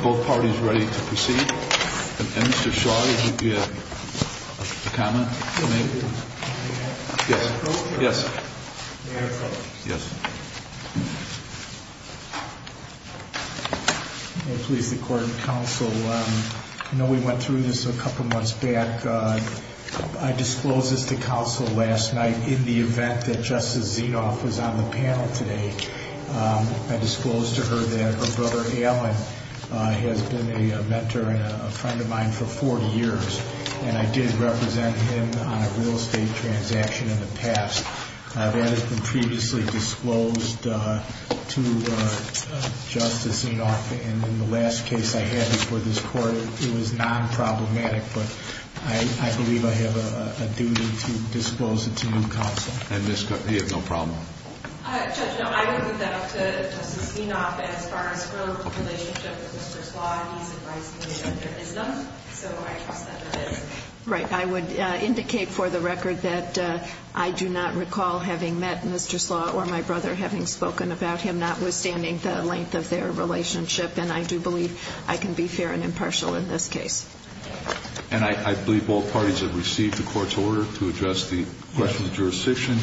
Both parties ready to proceed? And Mr. Shaw, did you have a comment to make? Yes. May I close? Yes. May I close? Yes. May it please the court and counsel, I know we went through this a couple months back. I disclosed this to counsel last night in the event that Justice Zinoff was on the panel today. I disclosed to her that her brother, Allen, has been a mentor and a friend of mine for 40 years. And I did represent him on a real estate transaction in the past. That has been previously disclosed to Justice Zinoff in the last case I had before this court. It was non-problematic, but I believe I have a duty to disclose it to you, counsel. And he had no problem? Judge, no, I would move that up to Justice Zinoff. As far as her relationship with Mr. Slaw, he's advised me that there is none. So I trust that there is none. Right. I would indicate for the record that I do not recall having met Mr. Slaw or my brother, having spoken about him, notwithstanding the length of their relationship. And I do believe I can be fair and impartial in this case. And I believe both parties have received the court's order to address the question of jurisdiction.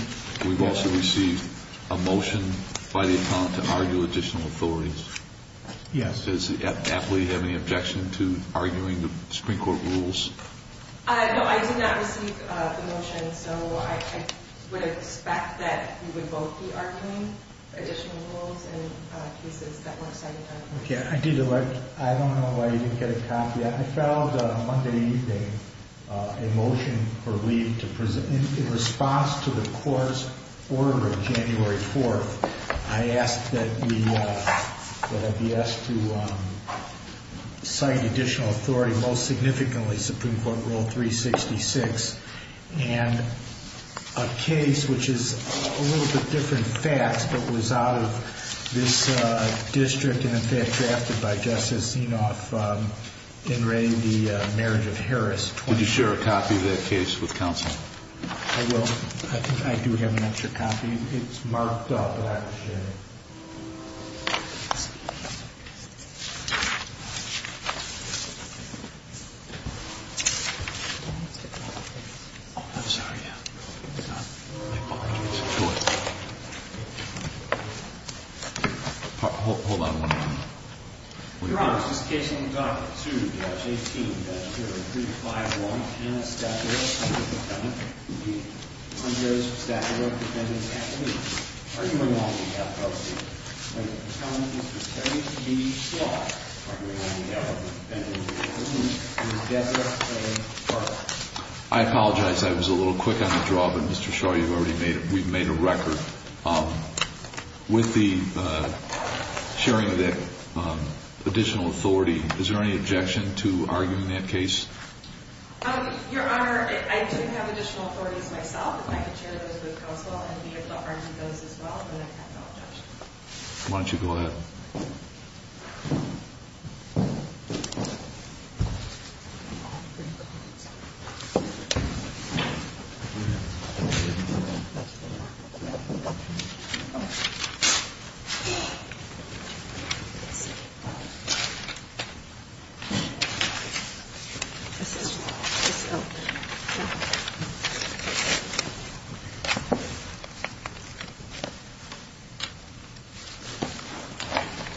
We've also received a motion by the appellant to argue additional authorities. Yes. Does the appellee have any objection to arguing the Supreme Court rules? No, I did not receive the motion. So I would expect that we would both be arguing additional rules in cases that were cited by the court. I don't know why you didn't get a copy. I filed Monday evening a motion for leave in response to the court's order of January 4th. I asked that we be asked to cite additional authority, most significantly Supreme Court Rule 366, and a case which is a little bit different facts but was out of this district and in fact drafted by Justice Zinoff in re the marriage of Harris. Would you share a copy of that case with counsel? I will. I think I do have an extra copy. It's marked up. Hold on one moment. Your Honor, this is case number document 2-18-0351. And a staff order from the appellant. The undue staff order preventing the appellant from arguing on behalf of the appellant. The appellant is preparing to meet each law requiring the appellant to defend himself or herself. I apologize. I was a little quick on the draw, but Mr. Shaw, you've already made it. We've made a record. With the sharing of that additional authority, is there any objection to arguing that case? Your Honor, I do have additional authorities myself. I can share those with counsel and be a part of those as well, but I have no objection. Why don't you go ahead?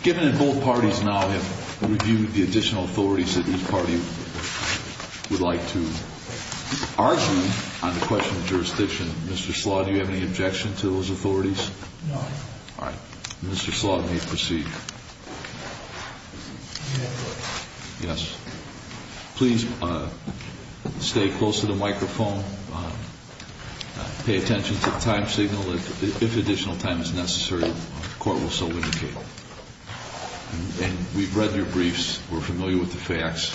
Given that both parties now have reviewed the additional authorities that each party would like to argue on the question of jurisdiction, Mr. Slaw, do you have any objection to those authorities? No. All right. Mr. Slaw may proceed. Yes. Please stay close to the microphone. Pay attention to the time signal. If additional time is necessary, the court will so indicate. And we've read your briefs. We're familiar with the facts.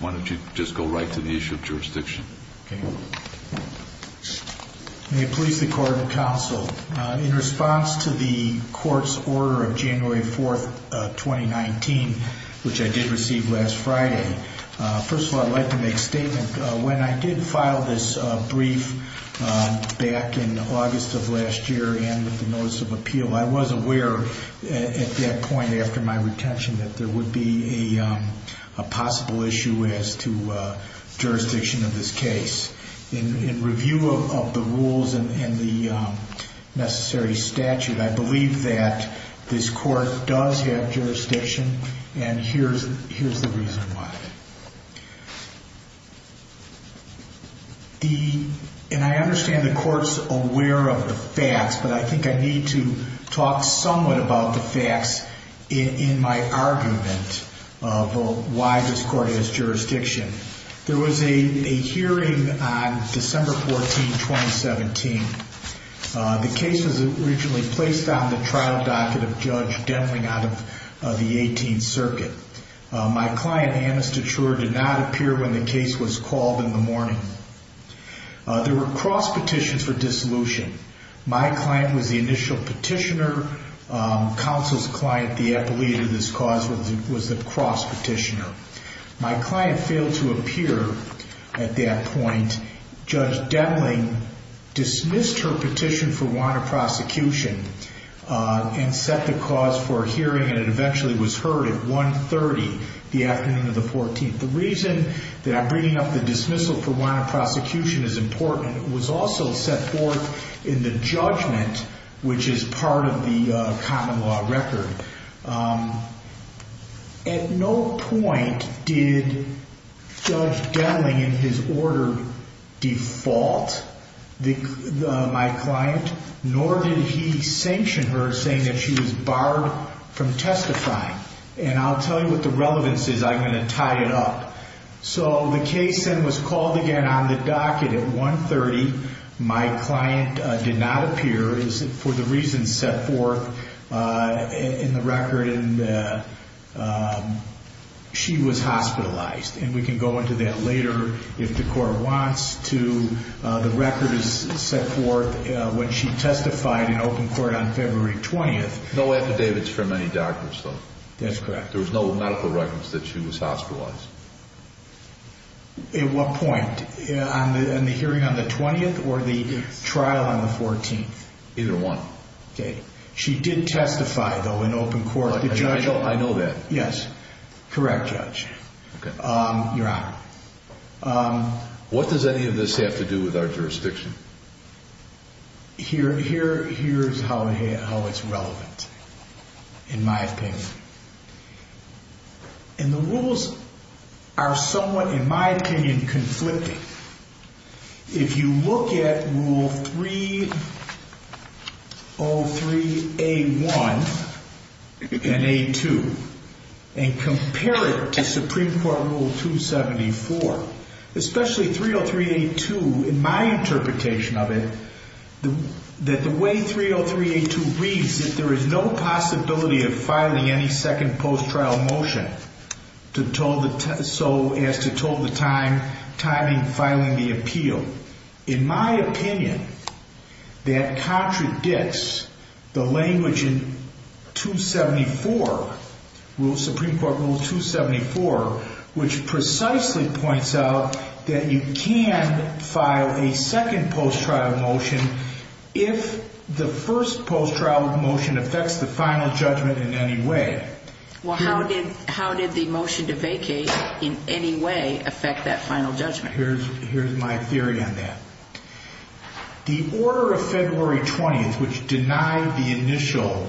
Why don't you just go right to the issue of jurisdiction? Okay. May it please the Court and counsel, in response to the court's order of January 4th, 2019, which I did receive last Friday, first of all, I'd like to make a statement. When I did file this brief back in August of last year and with the notice of appeal, I was aware at that point after my retention that there would be a possible issue as to jurisdiction of this case. In review of the rules and the necessary statute, I believe that this court does have jurisdiction, and here's the reason why. And I understand the court's aware of the facts, but I think I need to talk somewhat about the facts in my argument of why this court has jurisdiction. There was a hearing on December 14, 2017. The case was originally placed on the trial docket of Judge Demling out of the 18th Circuit. My client, Amnesty Truer, did not appear when the case was called in the morning. There were cross petitions for dissolution. My client was the initial petitioner. Counsel's client, the appellee to this cause, was the cross petitioner. My client failed to appear at that point. Judge Demling dismissed her petition for warrant of prosecution and set the cause for a hearing, and it eventually was heard at 1.30 the afternoon of the 14th. The reason that I'm bringing up the dismissal for warrant of prosecution is important. It was also set forth in the judgment, which is part of the common law record. At no point did Judge Demling, in his order, default my client, nor did he sanction her, saying that she was barred from testifying. And I'll tell you what the relevance is. I'm going to tie it up. So the case then was called again on the docket at 1.30. My client did not appear, for the reasons set forth in the record, and she was hospitalized. And we can go into that later, if the court wants to. The record is set forth when she testified in open court on February 20th. No affidavits from any doctors, though. That's correct. There was no medical records that she was hospitalized. At what point? In the hearing on the 20th or the trial on the 14th? Either one. Okay. She did testify, though, in open court. I know that. Yes. Correct, Judge. Your Honor. What does any of this have to do with our jurisdiction? Here's how it's relevant, in my opinion. And the rules are somewhat, in my opinion, conflicting. If you look at Rule 303A1 and A2 and compare it to Supreme Court Rule 274, especially 303A2, in my interpretation of it, that the way 303A2 reads, that there is no possibility of filing any second post-trial motion so as to toll the time, timing, filing the appeal. In my opinion, that contradicts the language in 274, Supreme Court Rule 274, which precisely points out that you can file a second post-trial motion if the first post-trial motion affects the final judgment in any way. Well, how did the motion to vacate in any way affect that final judgment? Here's my theory on that. The order of February 20th, which denied the initial,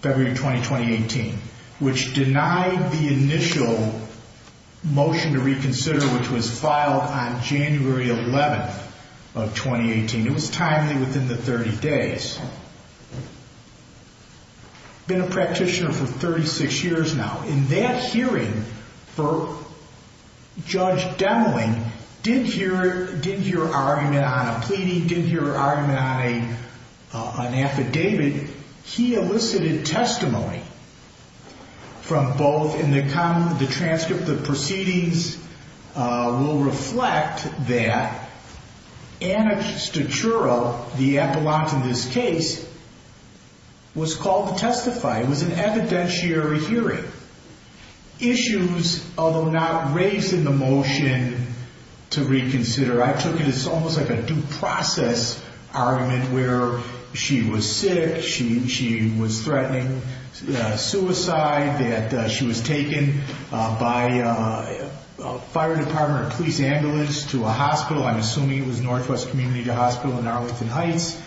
February 20, 2018, which denied the initial motion to reconsider, which was filed on January 11th of 2018, it was timely within the 30 days, been a practitioner for 36 years now. In that hearing, Judge Demling didn't hear an argument on a pleading, didn't hear an argument on an affidavit. He elicited testimony from both, and the transcript of the proceedings will reflect that Anastasiura, the appellant in this case, was called to testify. It was an evidentiary hearing. Issues, although not raised in the motion to reconsider. I took it as almost like a due process argument where she was sick, she was threatening suicide, that she was taken by a fire department or police ambulance to a hospital. I'm assuming it was Northwest Community Hospital in Arlington Heights.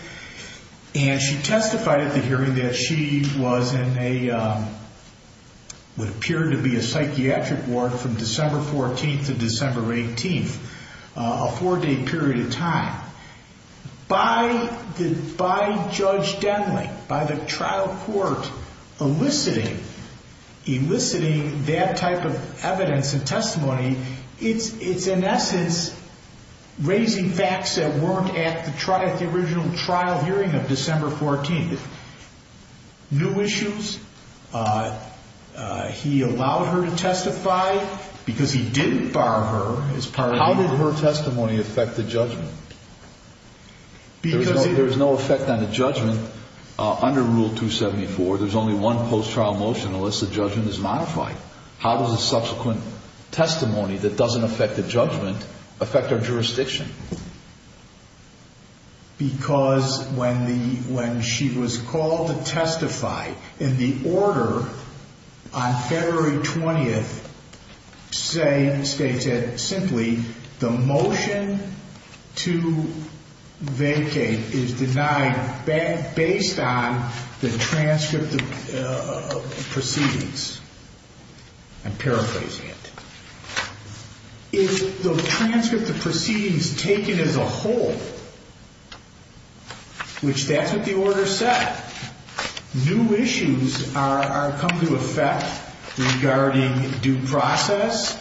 And she testified at the hearing that she was in what appeared to be a psychiatric ward from December 14th to December 18th, a four-day period of time. By Judge Demling, by the trial court eliciting that type of evidence and testimony, it's in essence raising facts that weren't at the original trial hearing of December 14th. New issues, he allowed her to testify because he didn't bar her as part of the... There's no effect on the judgment under Rule 274. There's only one post-trial motion unless the judgment is modified. How does a subsequent testimony that doesn't affect the judgment affect our jurisdiction? Because when she was called to testify in the order on February 20th, states it simply, the motion to vacate is denied based on the transcript of proceedings. I'm paraphrasing it. If the transcript of proceedings taken as a whole, which that's what the order said, new issues come to effect regarding due process,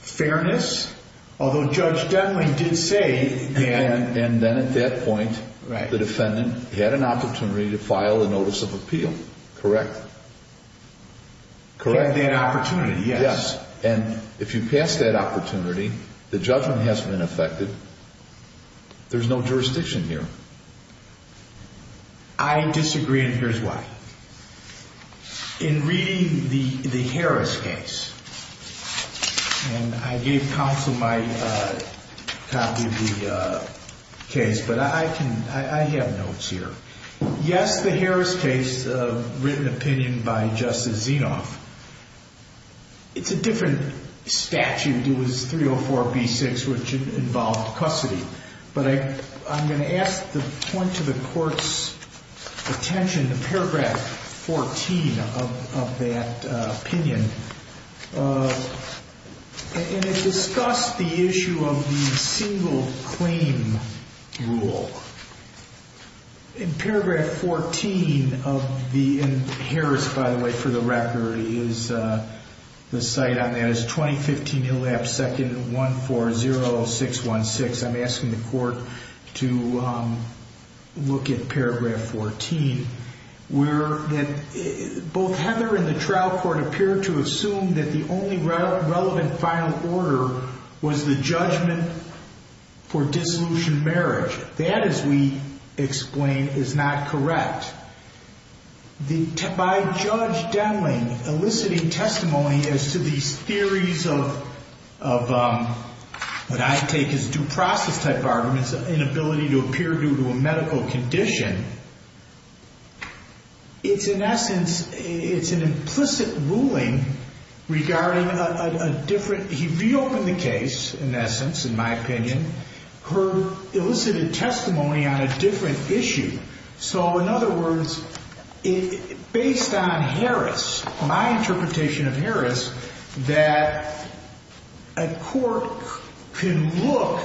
fairness, although Judge Demling did say that... And then at that point, the defendant had an opportunity to file a notice of appeal, correct? Correct. Had that opportunity, yes. Yes, and if you pass that opportunity, the judgment hasn't been affected. There's no jurisdiction here. I disagree, and here's why. In reading the Harris case, and I gave counsel my copy of the case, but I have notes here. Yes, the Harris case, written opinion by Justice Zinoff, it's a different statute. It was 304B6, which involved custody, but I'm going to ask to point to the court's attention in paragraph 14 of that opinion, and it discussed the issue of the single claim rule. In paragraph 14 of the, and Harris, by the way, for the record, is the site on that, as 2015 elapsed second, 140616. I'm asking the court to look at paragraph 14, where both Heather and the trial court appeared to assume that the only relevant final order was the judgment for dissolution marriage. That, as we explain, is not correct. By Judge Denling eliciting testimony as to these theories of what I take as due process type arguments, inability to appear due to a medical condition, it's in essence, it's an implicit ruling regarding a different, he reopened the case, in essence, in my opinion, her elicited testimony on a different issue. In other words, based on Harris, my interpretation of Harris, that a court can look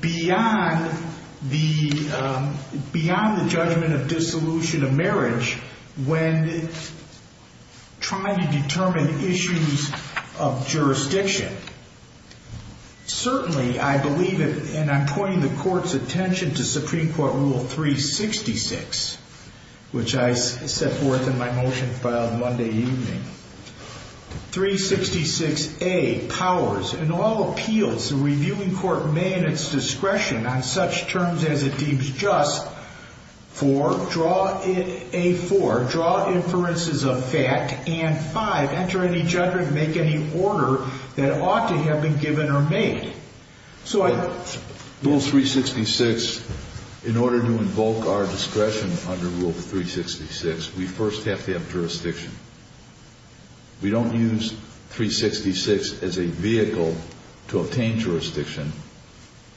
beyond the judgment of dissolution of marriage when trying to determine issues of jurisdiction. Certainly, I believe it, and I'm pointing the court's attention to Supreme Court Rule 366, which I set forth in my motion filed Monday evening. 366A powers, in all appeals, the reviewing court may in its discretion on such terms as it deems just for A4, draw inferences of fact, and 5, enter any judgment, make any order that ought to have been given or made. Rule 366, in order to invoke our discretion under Rule 366, we first have to have jurisdiction. We don't use 366 as a vehicle to obtain jurisdiction.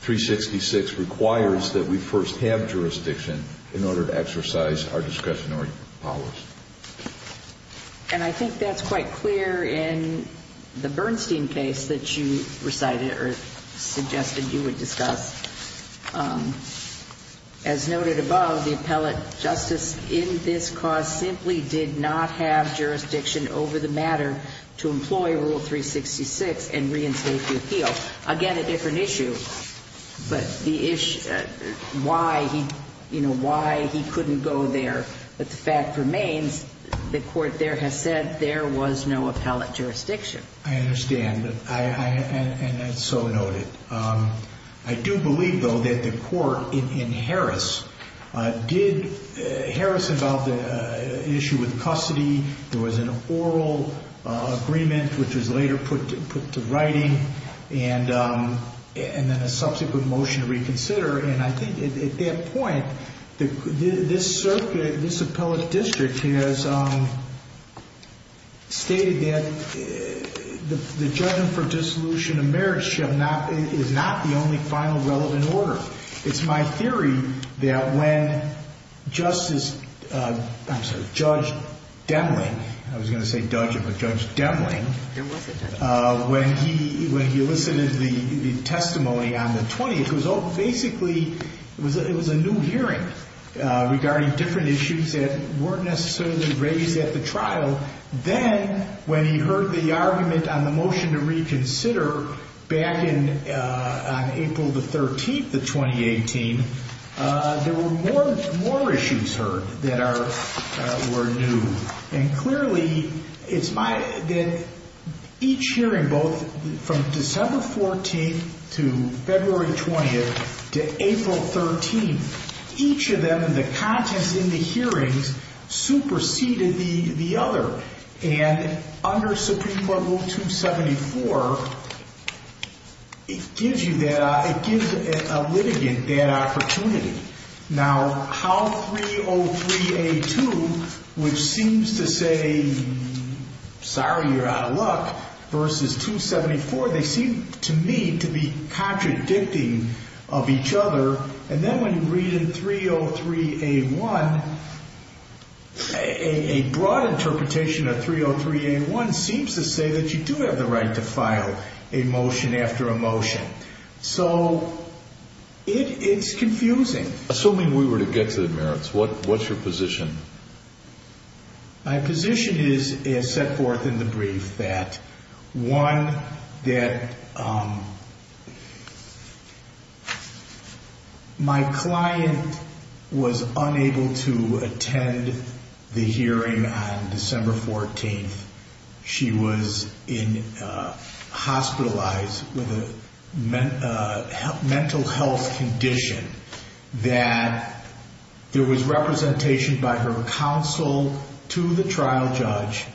366 requires that we first have jurisdiction in order to exercise our discretionary powers. And I think that's quite clear in the Bernstein case that you recited or suggested you would discuss. As noted above, the appellate justice in this cause simply did not have jurisdiction over the matter to employ Rule 366 and reinstate the appeal. Again, a different issue, but why he couldn't go there. But the fact remains, the court there has said there was no appellate jurisdiction. I understand, and that's so noted. I do believe, though, that the court in Harris, did Harris involve an issue with custody? There was an oral agreement, which was later put to writing, and then a subsequent motion to reconsider. And I think at that point, this circuit, this appellate district has stated that the judgment for dissolution of marriage is not the only final relevant order. It's my theory that when Justice, I'm sorry, Judge Demling, I was going to say Dudge, but Judge Demling, when he elicited the testimony on the 20th, it was basically, it was a new hearing regarding different issues that weren't necessarily raised at the trial. Then, when he heard the argument on the motion to reconsider back on April the 13th of 2018, there were more issues heard that were new. And clearly, it's my, each hearing, both from December 14th to February 20th to April 13th, each of them, the contents in the hearings, superseded the other. And under Supreme Court Rule 274, it gives you that, it gives a litigant that opportunity. Now, how 303A2, which seems to say, sorry, you're out of luck, versus 274, they seem to me to be contradicting of each other. And then when you read in 303A1, a broad interpretation of 303A1 seems to say that you do have the right to file a motion after a motion. So, it's confusing. Assuming we were to get to the merits, what's your position? My position is, as set forth in the brief, that one, that my client was unable to attend the hearing on December 14th. She was hospitalized with a mental health condition, that there was representation by her counsel to the trial judge,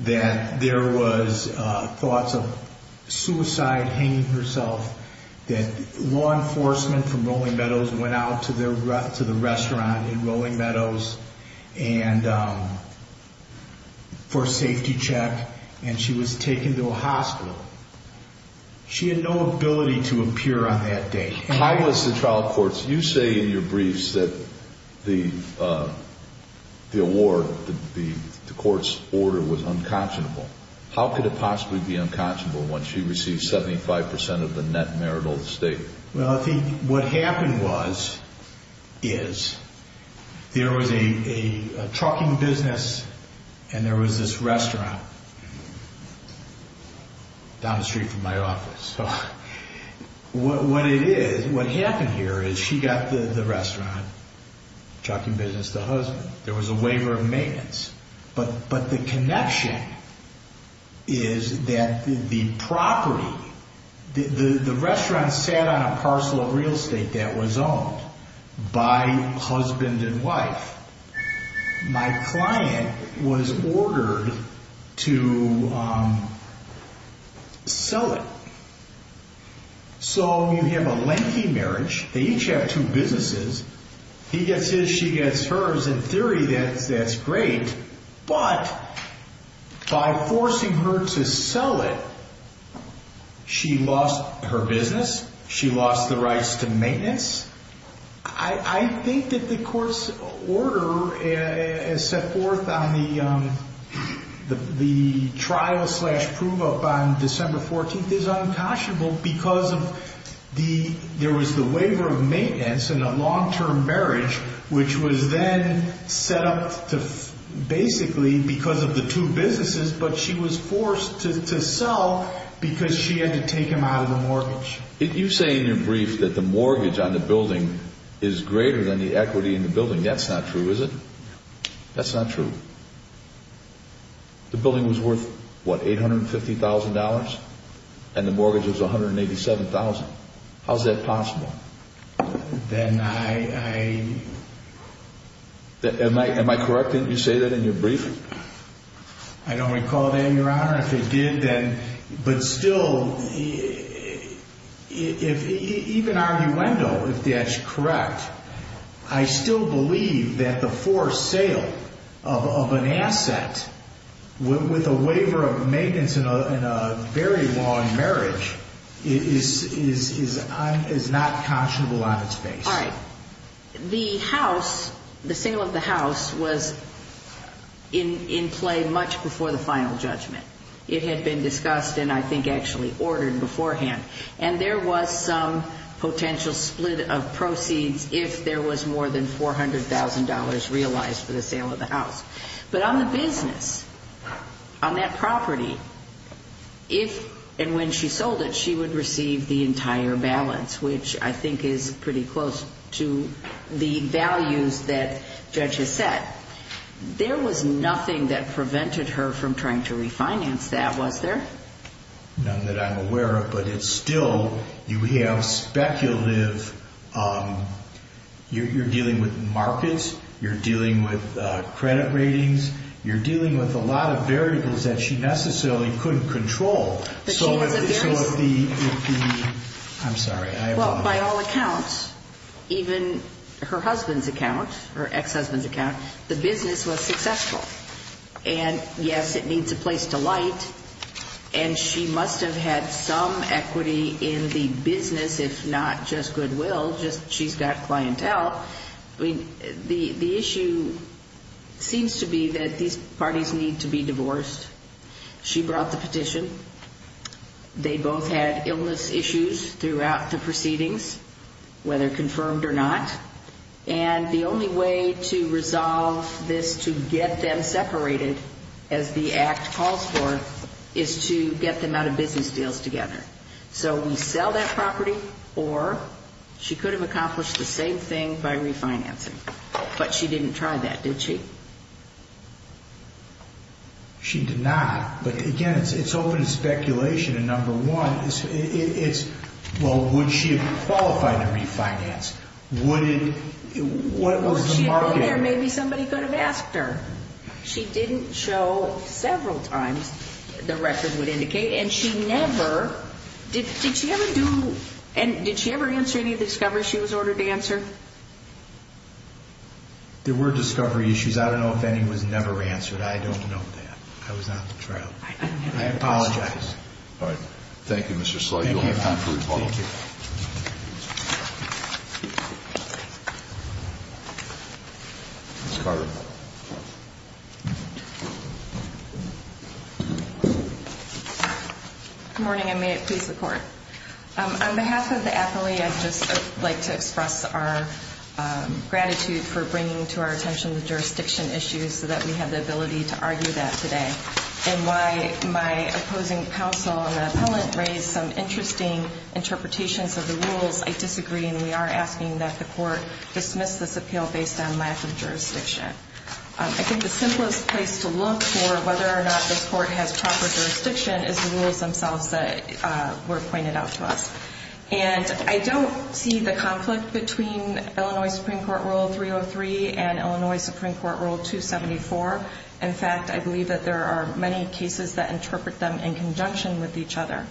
that there was thoughts of suicide hanging herself, that law enforcement from Rolling Meadows went out to the restaurant in Rolling Meadows for a safety check, and she was taken to a hospital. She had no ability to appear on that day. I was to trial courts, you say in your briefs that the award, the court's order was unconscionable. How could it possibly be unconscionable when she received 75% of the net marital estate? Well, I think what happened was, is, there was a trucking business and there was this restaurant down the street from my office. So, what it is, what happened here is she got the restaurant, trucking business, the husband. There was a waiver of maintenance. But the connection is that the property, the restaurant sat on a parcel of real estate that was owned by husband and wife. My client was ordered to sell it. So, you have a lengthy marriage. They each have two businesses. He gets his, she gets hers. In theory, that's great. But by forcing her to sell it, she lost her business. She lost the rights to maintenance. I think that the court's order as set forth on the trial slash prove up on December 14th is unconscionable because of the, there was the waiver of maintenance in a long-term marriage, which was then set up to basically because of the two businesses, but she was forced to sell because she had to take him out of the mortgage. You say in your brief that the mortgage on the building is greater than the equity in the building. That's not true, is it? No. That's not true? No. The building was worth, what, $850,000? And the mortgage was $187,000. How's that possible? Then I... Am I correct? Didn't you say that in your brief? I don't recall that, Your Honor. I don't know if it did, but still, even arguendo, if that's correct, I still believe that the forced sale of an asset with a waiver of maintenance in a very long marriage is not conscionable on its face. All right. The house, the sale of the house was in play much before the final judgment. It had been discussed and I think actually ordered beforehand, and there was some potential split of proceeds if there was more than $400,000 realized for the sale of the house. But on the business, on that property, if and when she sold it, she would receive the entire balance, which I think is pretty close to the values that Judge has set. There was nothing that prevented her from trying to refinance that, was there? None that I'm aware of, but it's still, you have speculative, you're dealing with markets, you're dealing with credit ratings, you're dealing with a lot of variables that she necessarily couldn't control. I'm sorry. Well, by all accounts, even her husband's account, her ex-husband's account, the business was successful. And yes, it needs a place to light, and she must have had some equity in the business, if not just goodwill, just she's got clientele. The issue seems to be that these parties need to be divorced. She brought the petition. They both had illness issues throughout the proceedings, whether confirmed or not, and the only way to resolve this to get them separated, as the Act calls for, is to get them out of business deals together. So we sell that property, or she could have accomplished the same thing by refinancing. But she didn't try that, did she? She did not. But again, it's open to speculation, and number one, it's, well, would she have qualified to refinance? Would it, what was the market? Well, if she had been there, maybe somebody could have asked her. She didn't show several times, the records would indicate, and she never, did she ever do, and did she ever answer any of the discoveries she was ordered to answer? There were discovery issues. I don't know if any was never answered. I don't know that. I was not in the trial. I apologize. All right. Thank you, Mr. Slough. You'll have time for rebuttal. Thank you. Ms. Carter. Good morning, and may it please the Court. On behalf of the appellee, I'd just like to express our gratitude for bringing to our attention the jurisdiction issues so that we have the ability to argue that today, and why my opposing counsel and the appellant raised some interesting interpretations of the rules. I disagree, and we are asking that the Court dismiss this appeal based on lack of jurisdiction. I think the simplest place to look for whether or not this Court has proper jurisdiction is the rules themselves that were pointed out to us. And I don't see the conflict between Illinois Supreme Court Rule 303 and Illinois Supreme Court Rule 274. In fact, I believe that there are many cases that interpret them in conjunction with each other.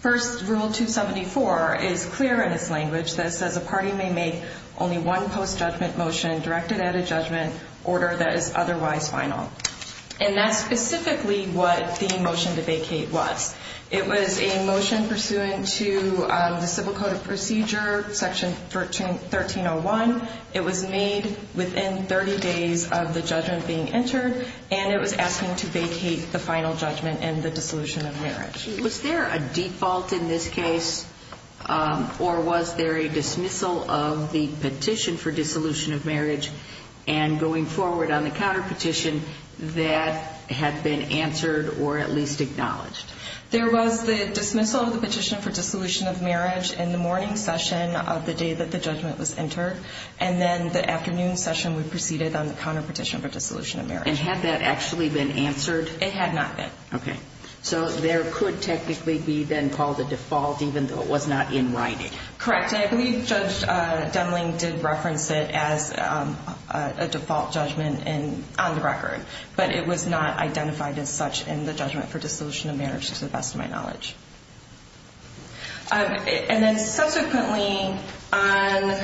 First, Rule 274 is clear in its language that says a party may make only one post-judgment motion directed at a judgment order that is otherwise final. And that's specifically what the motion to vacate was. It was a motion pursuant to the Civil Code of Procedure, Section 1301. It was made within 30 days of the judgment being entered, and it was asking to vacate the final judgment and the dissolution of marriage. Was there a default in this case, or was there a dismissal of the petition for dissolution of marriage? And going forward on the counterpetition, that had been answered or at least acknowledged. There was the dismissal of the petition for dissolution of marriage in the morning session of the day that the judgment was entered. And then the afternoon session we proceeded on the counterpetition for dissolution of marriage. And had that actually been answered? It had not been. Okay. So there could technically be then called a default even though it was not in writing. Correct. And I believe Judge Demling did reference it as a default judgment on the record. But it was not identified as such in the judgment for dissolution of marriage to the best of my knowledge. And then subsequently on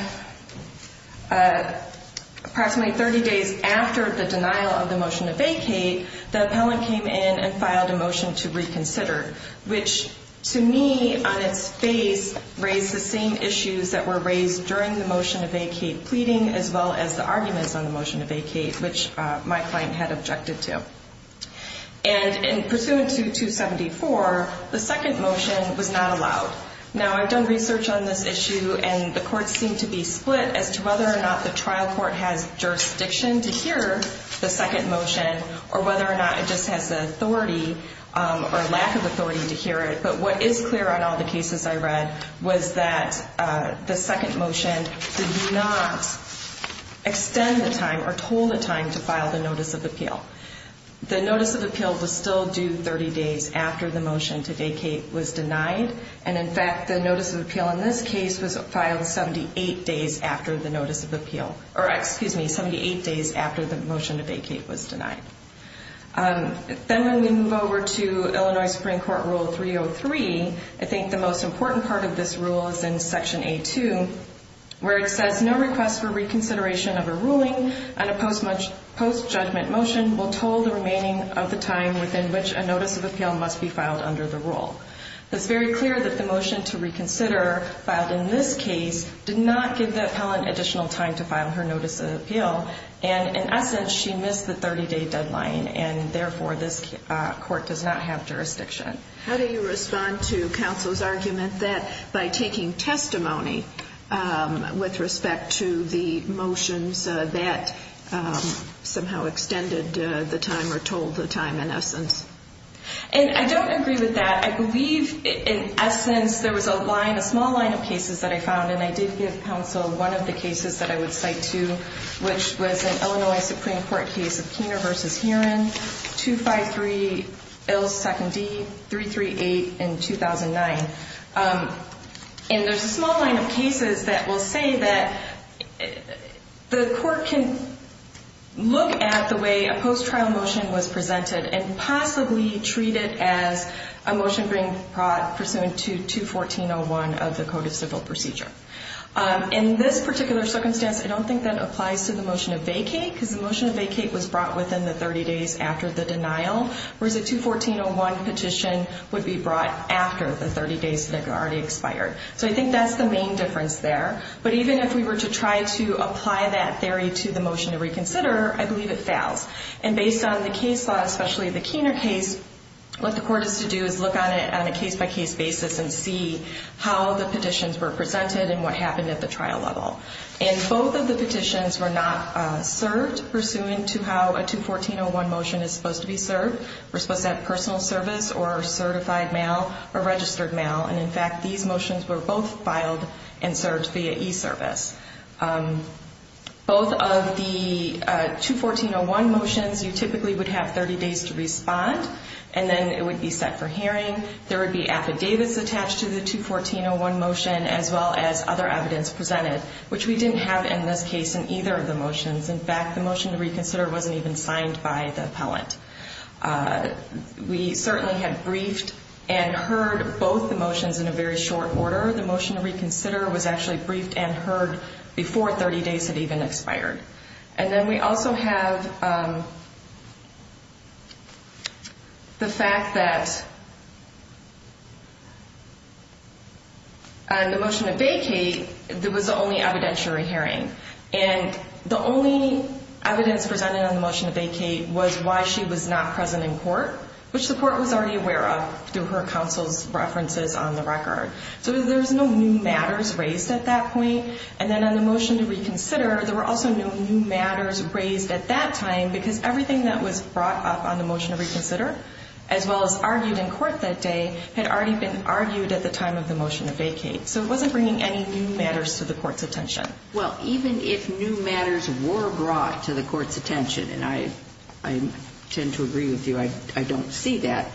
approximately 30 days after the denial of the motion to vacate, the appellant came in and filed a motion to reconsider, which to me on its face raised the same issues that were raised during the motion to vacate pleading, as well as the arguments on the motion to vacate, which my client had objected to. And pursuant to 274, the second motion was not allowed. Now I've done research on this issue, and the courts seem to be split as to whether or not the trial court has jurisdiction to hear the second motion, or whether or not it just has the authority or lack of authority to hear it. But what is clear on all the cases I read was that the second motion did not extend the time or told the time to file the notice of appeal. The notice of appeal was still due 30 days after the motion to vacate was denied. And in fact, the notice of appeal in this case was filed 78 days after the notice of appeal, or excuse me, 78 days after the motion to vacate was denied. Then when we move over to Illinois Supreme Court Rule 303, I think the most important part of this rule is in Section A2, where it says no request for reconsideration of a ruling on a post-judgment motion will toll the remaining of the time within which a notice of appeal must be filed under the rule. It's very clear that the motion to reconsider filed in this case did not give the appellant additional time to file her notice of appeal. And in essence, she missed the 30-day deadline, and therefore this court does not have jurisdiction. How do you respond to counsel's argument that by taking testimony with respect to the motions that somehow extended the time or told the time in essence? And I don't agree with that. I believe in essence there was a small line of cases that I found, and I did give counsel one of the cases that I would cite too, which was an Illinois Supreme Court case of Keener v. Heeran, 253L2D338 in 2009. And there's a small line of cases that will say that the court can look at the way a post-trial motion was presented and possibly treat it as a motion being brought pursuant to 214.01 of the Code of Civil Procedure. In this particular circumstance, I don't think that applies to the motion of vacate, because the motion of vacate was brought within the 30 days after the denial, whereas a 214.01 petition would be brought after the 30 days that had already expired. So I think that's the main difference there. But even if we were to try to apply that theory to the motion to reconsider, I believe it fails. And based on the case law, especially the Keener case, what the court has to do is look at it on a case-by-case basis and see how the petitions were presented and what happened at the trial level. And both of the petitions were not served pursuant to how a 214.01 motion is supposed to be served. We're supposed to have personal service or certified mail or registered mail. And in fact, these motions were both filed and served via e-service. Both of the 214.01 motions, you typically would have 30 days to respond, and then it would be set for hearing. There would be affidavits attached to the 214.01 motion, as well as other evidence presented, which we didn't have in this case in either of the motions. In fact, the motion to reconsider wasn't even signed by the appellant. We certainly had briefed and heard both the motions in a very short order. The motion to reconsider was actually briefed and heard before 30 days had even expired. And then we also have the fact that on the motion to vacate, there was the only evidentiary hearing. And the only evidence presented on the motion to vacate was why she was not present in court, which the court was already aware of through her counsel's references on the record. So there's no new matters raised at that point. And then on the motion to reconsider, there were also no new matters raised at that time because everything that was brought up on the motion to reconsider, as well as argued in court that day, had already been argued at the time of the motion to vacate. So it wasn't bringing any new matters to the court's attention. Well, even if new matters were brought to the court's attention, and I tend to agree with you, I don't see that,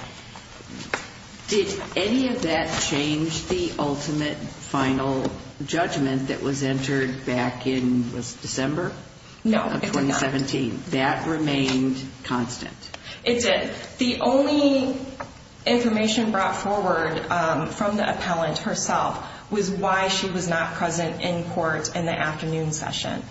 did any of that change the ultimate final judgment that was entered back in December of 2017? No, it did not. That remained constant? It did. The only information brought forward from the appellant herself was why she was not present in court in the afternoon session.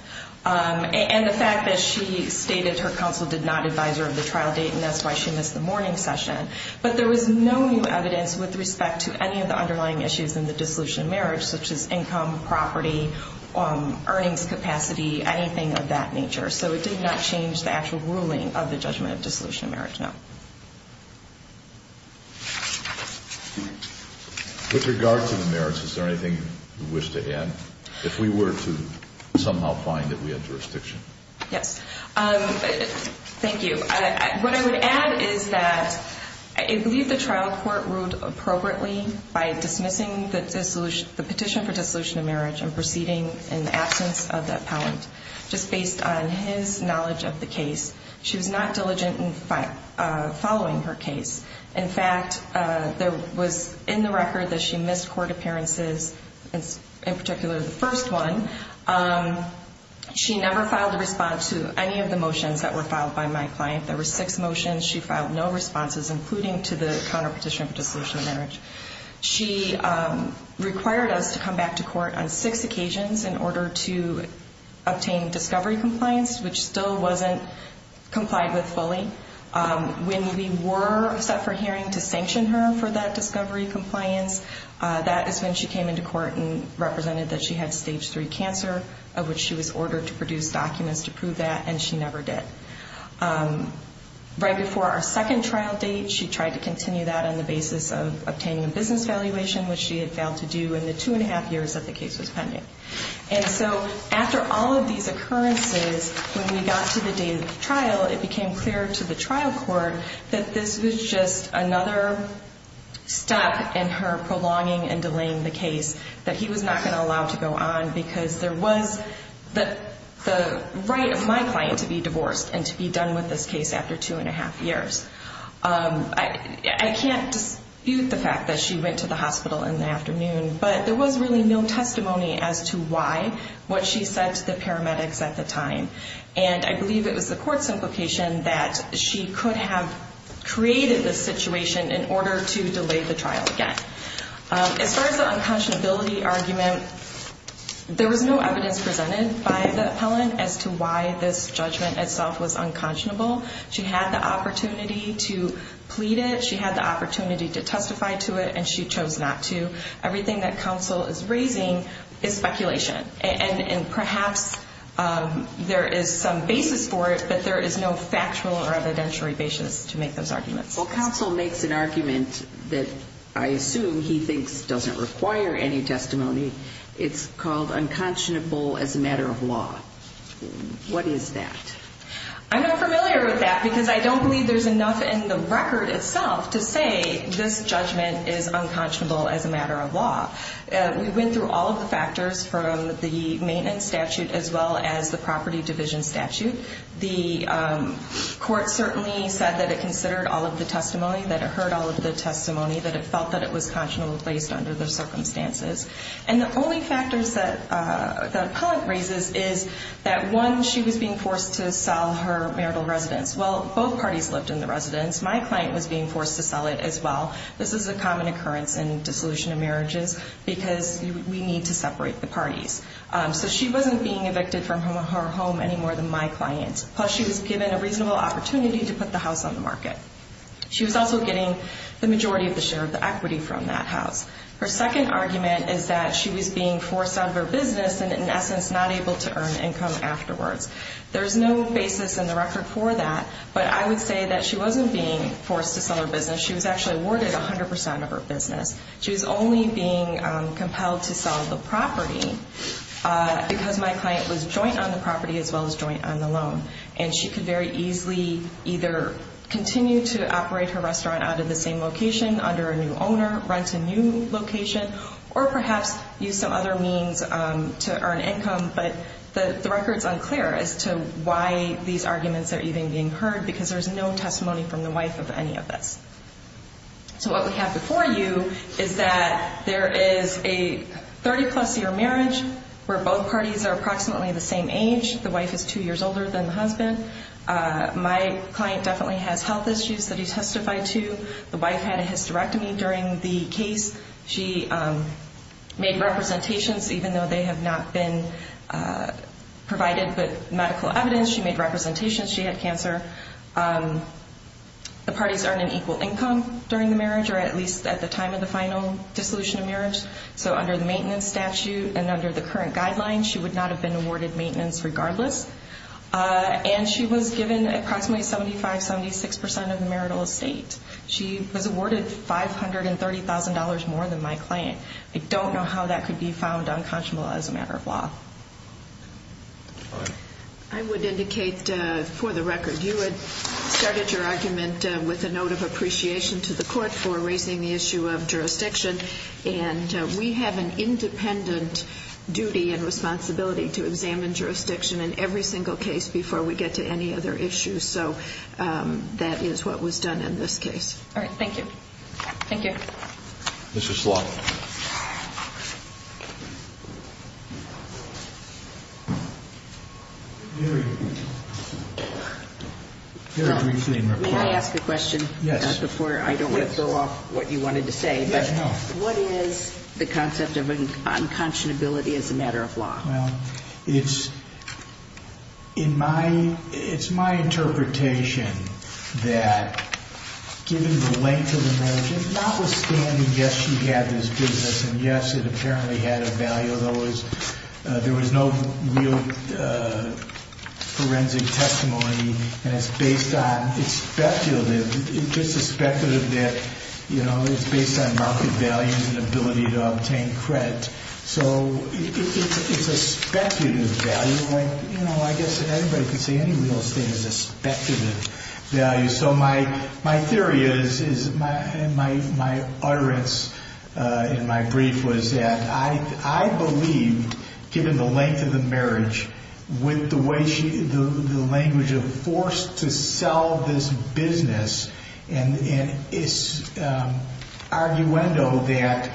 And the fact that she stated her counsel did not advise her of the trial date and that's why she missed the morning session. But there was no new evidence with respect to any of the underlying issues in the dissolution of marriage, such as income, property, earnings capacity, anything of that nature. So it did not change the actual ruling of the judgment of dissolution of marriage, no. With regard to the merits, is there anything you wish to add? If we were to somehow find that we had jurisdiction. Yes. Thank you. What I would add is that I believe the trial court ruled appropriately by dismissing the petition for dissolution of marriage and proceeding in the absence of the appellant. Just based on his knowledge of the case, she was not diligent in following her case. In fact, there was in the record that she missed court appearances, in particular the first one. She never filed a response to any of the motions that were filed by my client. There were six motions. She filed no responses, including to the counterpetition of dissolution of marriage. She required us to come back to court on six occasions in order to obtain discovery compliance, which still wasn't complied with fully. When we were set for hearing to sanction her for that discovery compliance, that is when she came into court and represented that she had stage three cancer, of which she was ordered to produce documents to prove that, and she never did. Right before our second trial date, she tried to continue that on the basis of obtaining a business valuation, which she had failed to do in the two and a half years that the case was pending. After all of these occurrences, when we got to the date of the trial, it became clear to the trial court that this was just another step in her prolonging and delaying the case, that he was not going to allow it to go on because there was the right of my client to be divorced and to be done with this case after two and a half years. I can't dispute the fact that she went to the hospital in the afternoon, but there was really no testimony as to why, what she said to the paramedics at the time. And I believe it was the court's implication that she could have created this situation in order to delay the trial again. As far as the unconscionability argument, there was no evidence presented by the appellant as to why this judgment itself was unconscionable. She had the opportunity to plead it. She had the opportunity to testify to it, and she chose not to. Everything that counsel is raising is speculation. And perhaps there is some basis for it, but there is no factual or evidentiary basis to make those arguments. Well, counsel makes an argument that I assume he thinks doesn't require any testimony. It's called unconscionable as a matter of law. What is that? I'm not familiar with that because I don't believe there's enough in the record itself to say this judgment is unconscionable as a matter of law. We went through all of the factors from the maintenance statute as well as the property division statute. The court certainly said that it considered all of the testimony, that it heard all of the testimony, that it felt that it was conscionable based under the circumstances. And the only factors that the appellant raises is that, one, she was being forced to sell her marital residence. Well, both parties lived in the residence. My client was being forced to sell it as well. This is a common occurrence in dissolution of marriages because we need to separate the parties. So she wasn't being evicted from her home any more than my client. Plus, she was given a reasonable opportunity to put the house on the market. She was also getting the majority of the share of the equity from that house. Her second argument is that she was being forced out of her business and, in essence, not able to earn income afterwards. There's no basis in the record for that, but I would say that she wasn't being forced to sell her business. She was actually awarded 100% of her business. She was only being compelled to sell the property because my client was joint on the property as well as joint on the loan. And she could very easily either continue to operate her restaurant out of the same location under a new owner, rent a new location, or perhaps use some other means to earn income. But the record's unclear as to why these arguments are even being heard because there's no testimony from the wife of any of this. So what we have before you is that there is a 30-plus year marriage where both parties are approximately the same age. The wife is two years older than the husband. My client definitely has health issues that he testified to. The wife had a hysterectomy during the case. She made representations even though they have not been provided with medical evidence. She made representations. She had cancer. The parties earned an equal income during the marriage or at least at the time of the final dissolution of marriage. So under the maintenance statute and under the current guidelines, she would not have been awarded maintenance regardless. And she was given approximately 75%, 76% of the marital estate. She was awarded $530,000 more than my client. I don't know how that could be found unconscionable as a matter of law. I would indicate for the record you had started your argument with a note of appreciation to the court for raising the issue of jurisdiction, and we have an independent duty and responsibility to examine jurisdiction in every single case before we get to any other issues. So that is what was done in this case. All right. Thank you. Thank you. Ms. Schlott. May I ask a question? Yes. Before I don't want to throw off what you wanted to say, but what is the concept of unconscionability as a matter of law? Well, it's my interpretation that given the length of the marriage, notwithstanding, yes, she had this business, and yes, it apparently had a value, there was no real forensic testimony, and it's based on speculative. It's just a speculative that, you know, it's based on market values and ability to obtain credit. So it's a speculative value. You know, I guess anybody can say any real estate is a speculative value. So my theory is, and my utterance in my brief was that I believe, given the length of the marriage, with the language of forced to sell this business and its arguendo that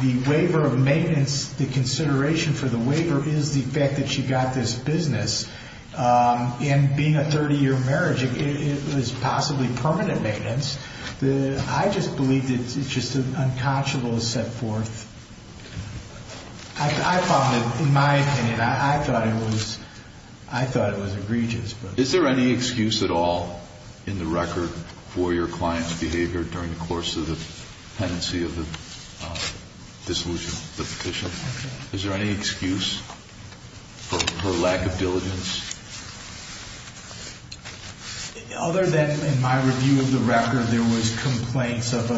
the waiver of maintenance, the consideration for the waiver is the fact that she got this business, and being a 30-year marriage, it was possibly permanent maintenance. I just believe that it's just an unconscionable set forth. I found it, in my opinion, I thought it was egregious. Is there any excuse at all in the record for your client's behavior during the course of the pendency of the dissolution of the petition? Is there any excuse for her lack of diligence? Other than in my review of the record, there was complaints of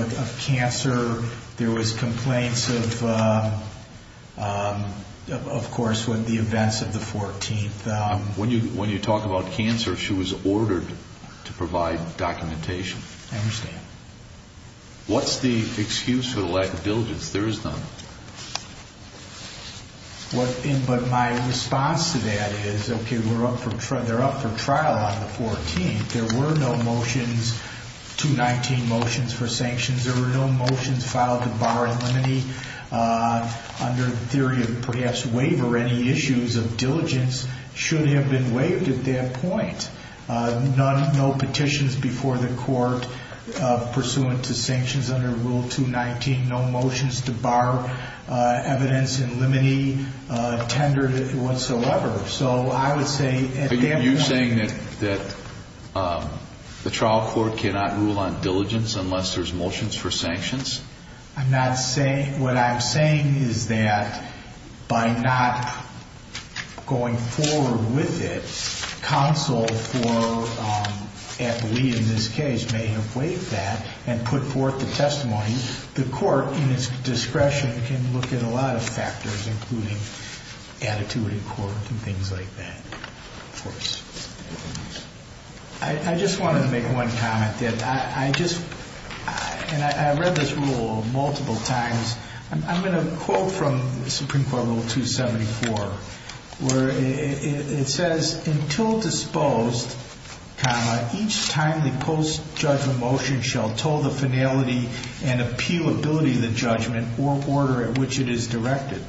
cancer, there was complaints of course with the events of the 14th. When you talk about cancer, she was ordered to provide documentation. I understand. What's the excuse for the lack of diligence? There is none. But my response to that is, okay, they're up for trial on the 14th. There were no motions, 219 motions for sanctions. There were no motions filed to bar and limit any, under the theory of perhaps waiver, any issues of diligence should have been waived at that point. No petitions before the court pursuant to sanctions under Rule 219, no motions to bar evidence and limit any tender whatsoever. So I would say at that point. Are you saying that the trial court cannot rule on diligence unless there's motions for sanctions? I'm not saying, what I'm saying is that by not going forward with it, counsel for, in this case, may have waived that and put forth the testimony. The court in its discretion can look at a lot of factors, including attitude in court and things like that. I just wanted to make one comment. I read this rule multiple times. I'm going to quote from Supreme Court Rule 274, where it says, until disposed, comma, each timely post-judgment motion shall toll the finality and appealability of the judgment or order at which it is directed.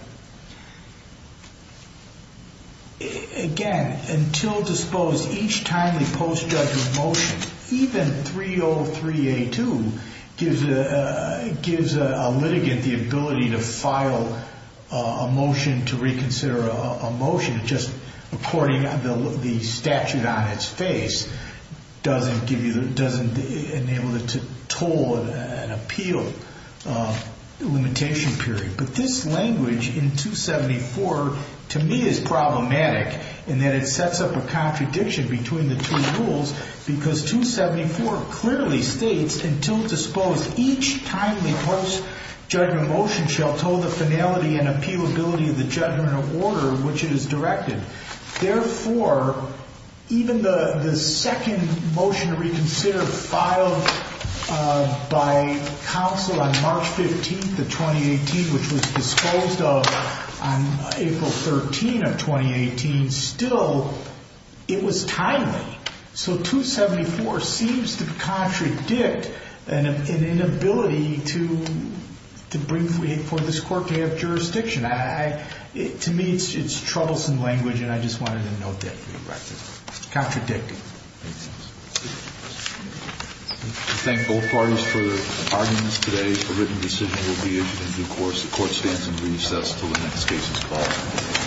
Again, until disposed, each timely post-judgment motion, even 303A2 gives a litigant the ability to file a motion to reconsider a motion just according to the statute on its face, doesn't enable it to toll an appeal limitation period. But this language in 274 to me is problematic in that it sets up a contradiction between the two rules because 274 clearly states, until disposed, each timely post-judgment motion shall toll the finality and appealability of the judgment or order at which it is directed. Therefore, even the second motion to reconsider filed by counsel on March 15th of 2018, which was disposed of on April 13th of 2018, still, it was timely. So 274 seems to contradict an inability to bring for this court to have jurisdiction. To me, it's troublesome language, and I just wanted to note that. Contradictive. I thank both parties for their arguments today. A written decision will be issued in due course. The Court stands in recess until the next case is called.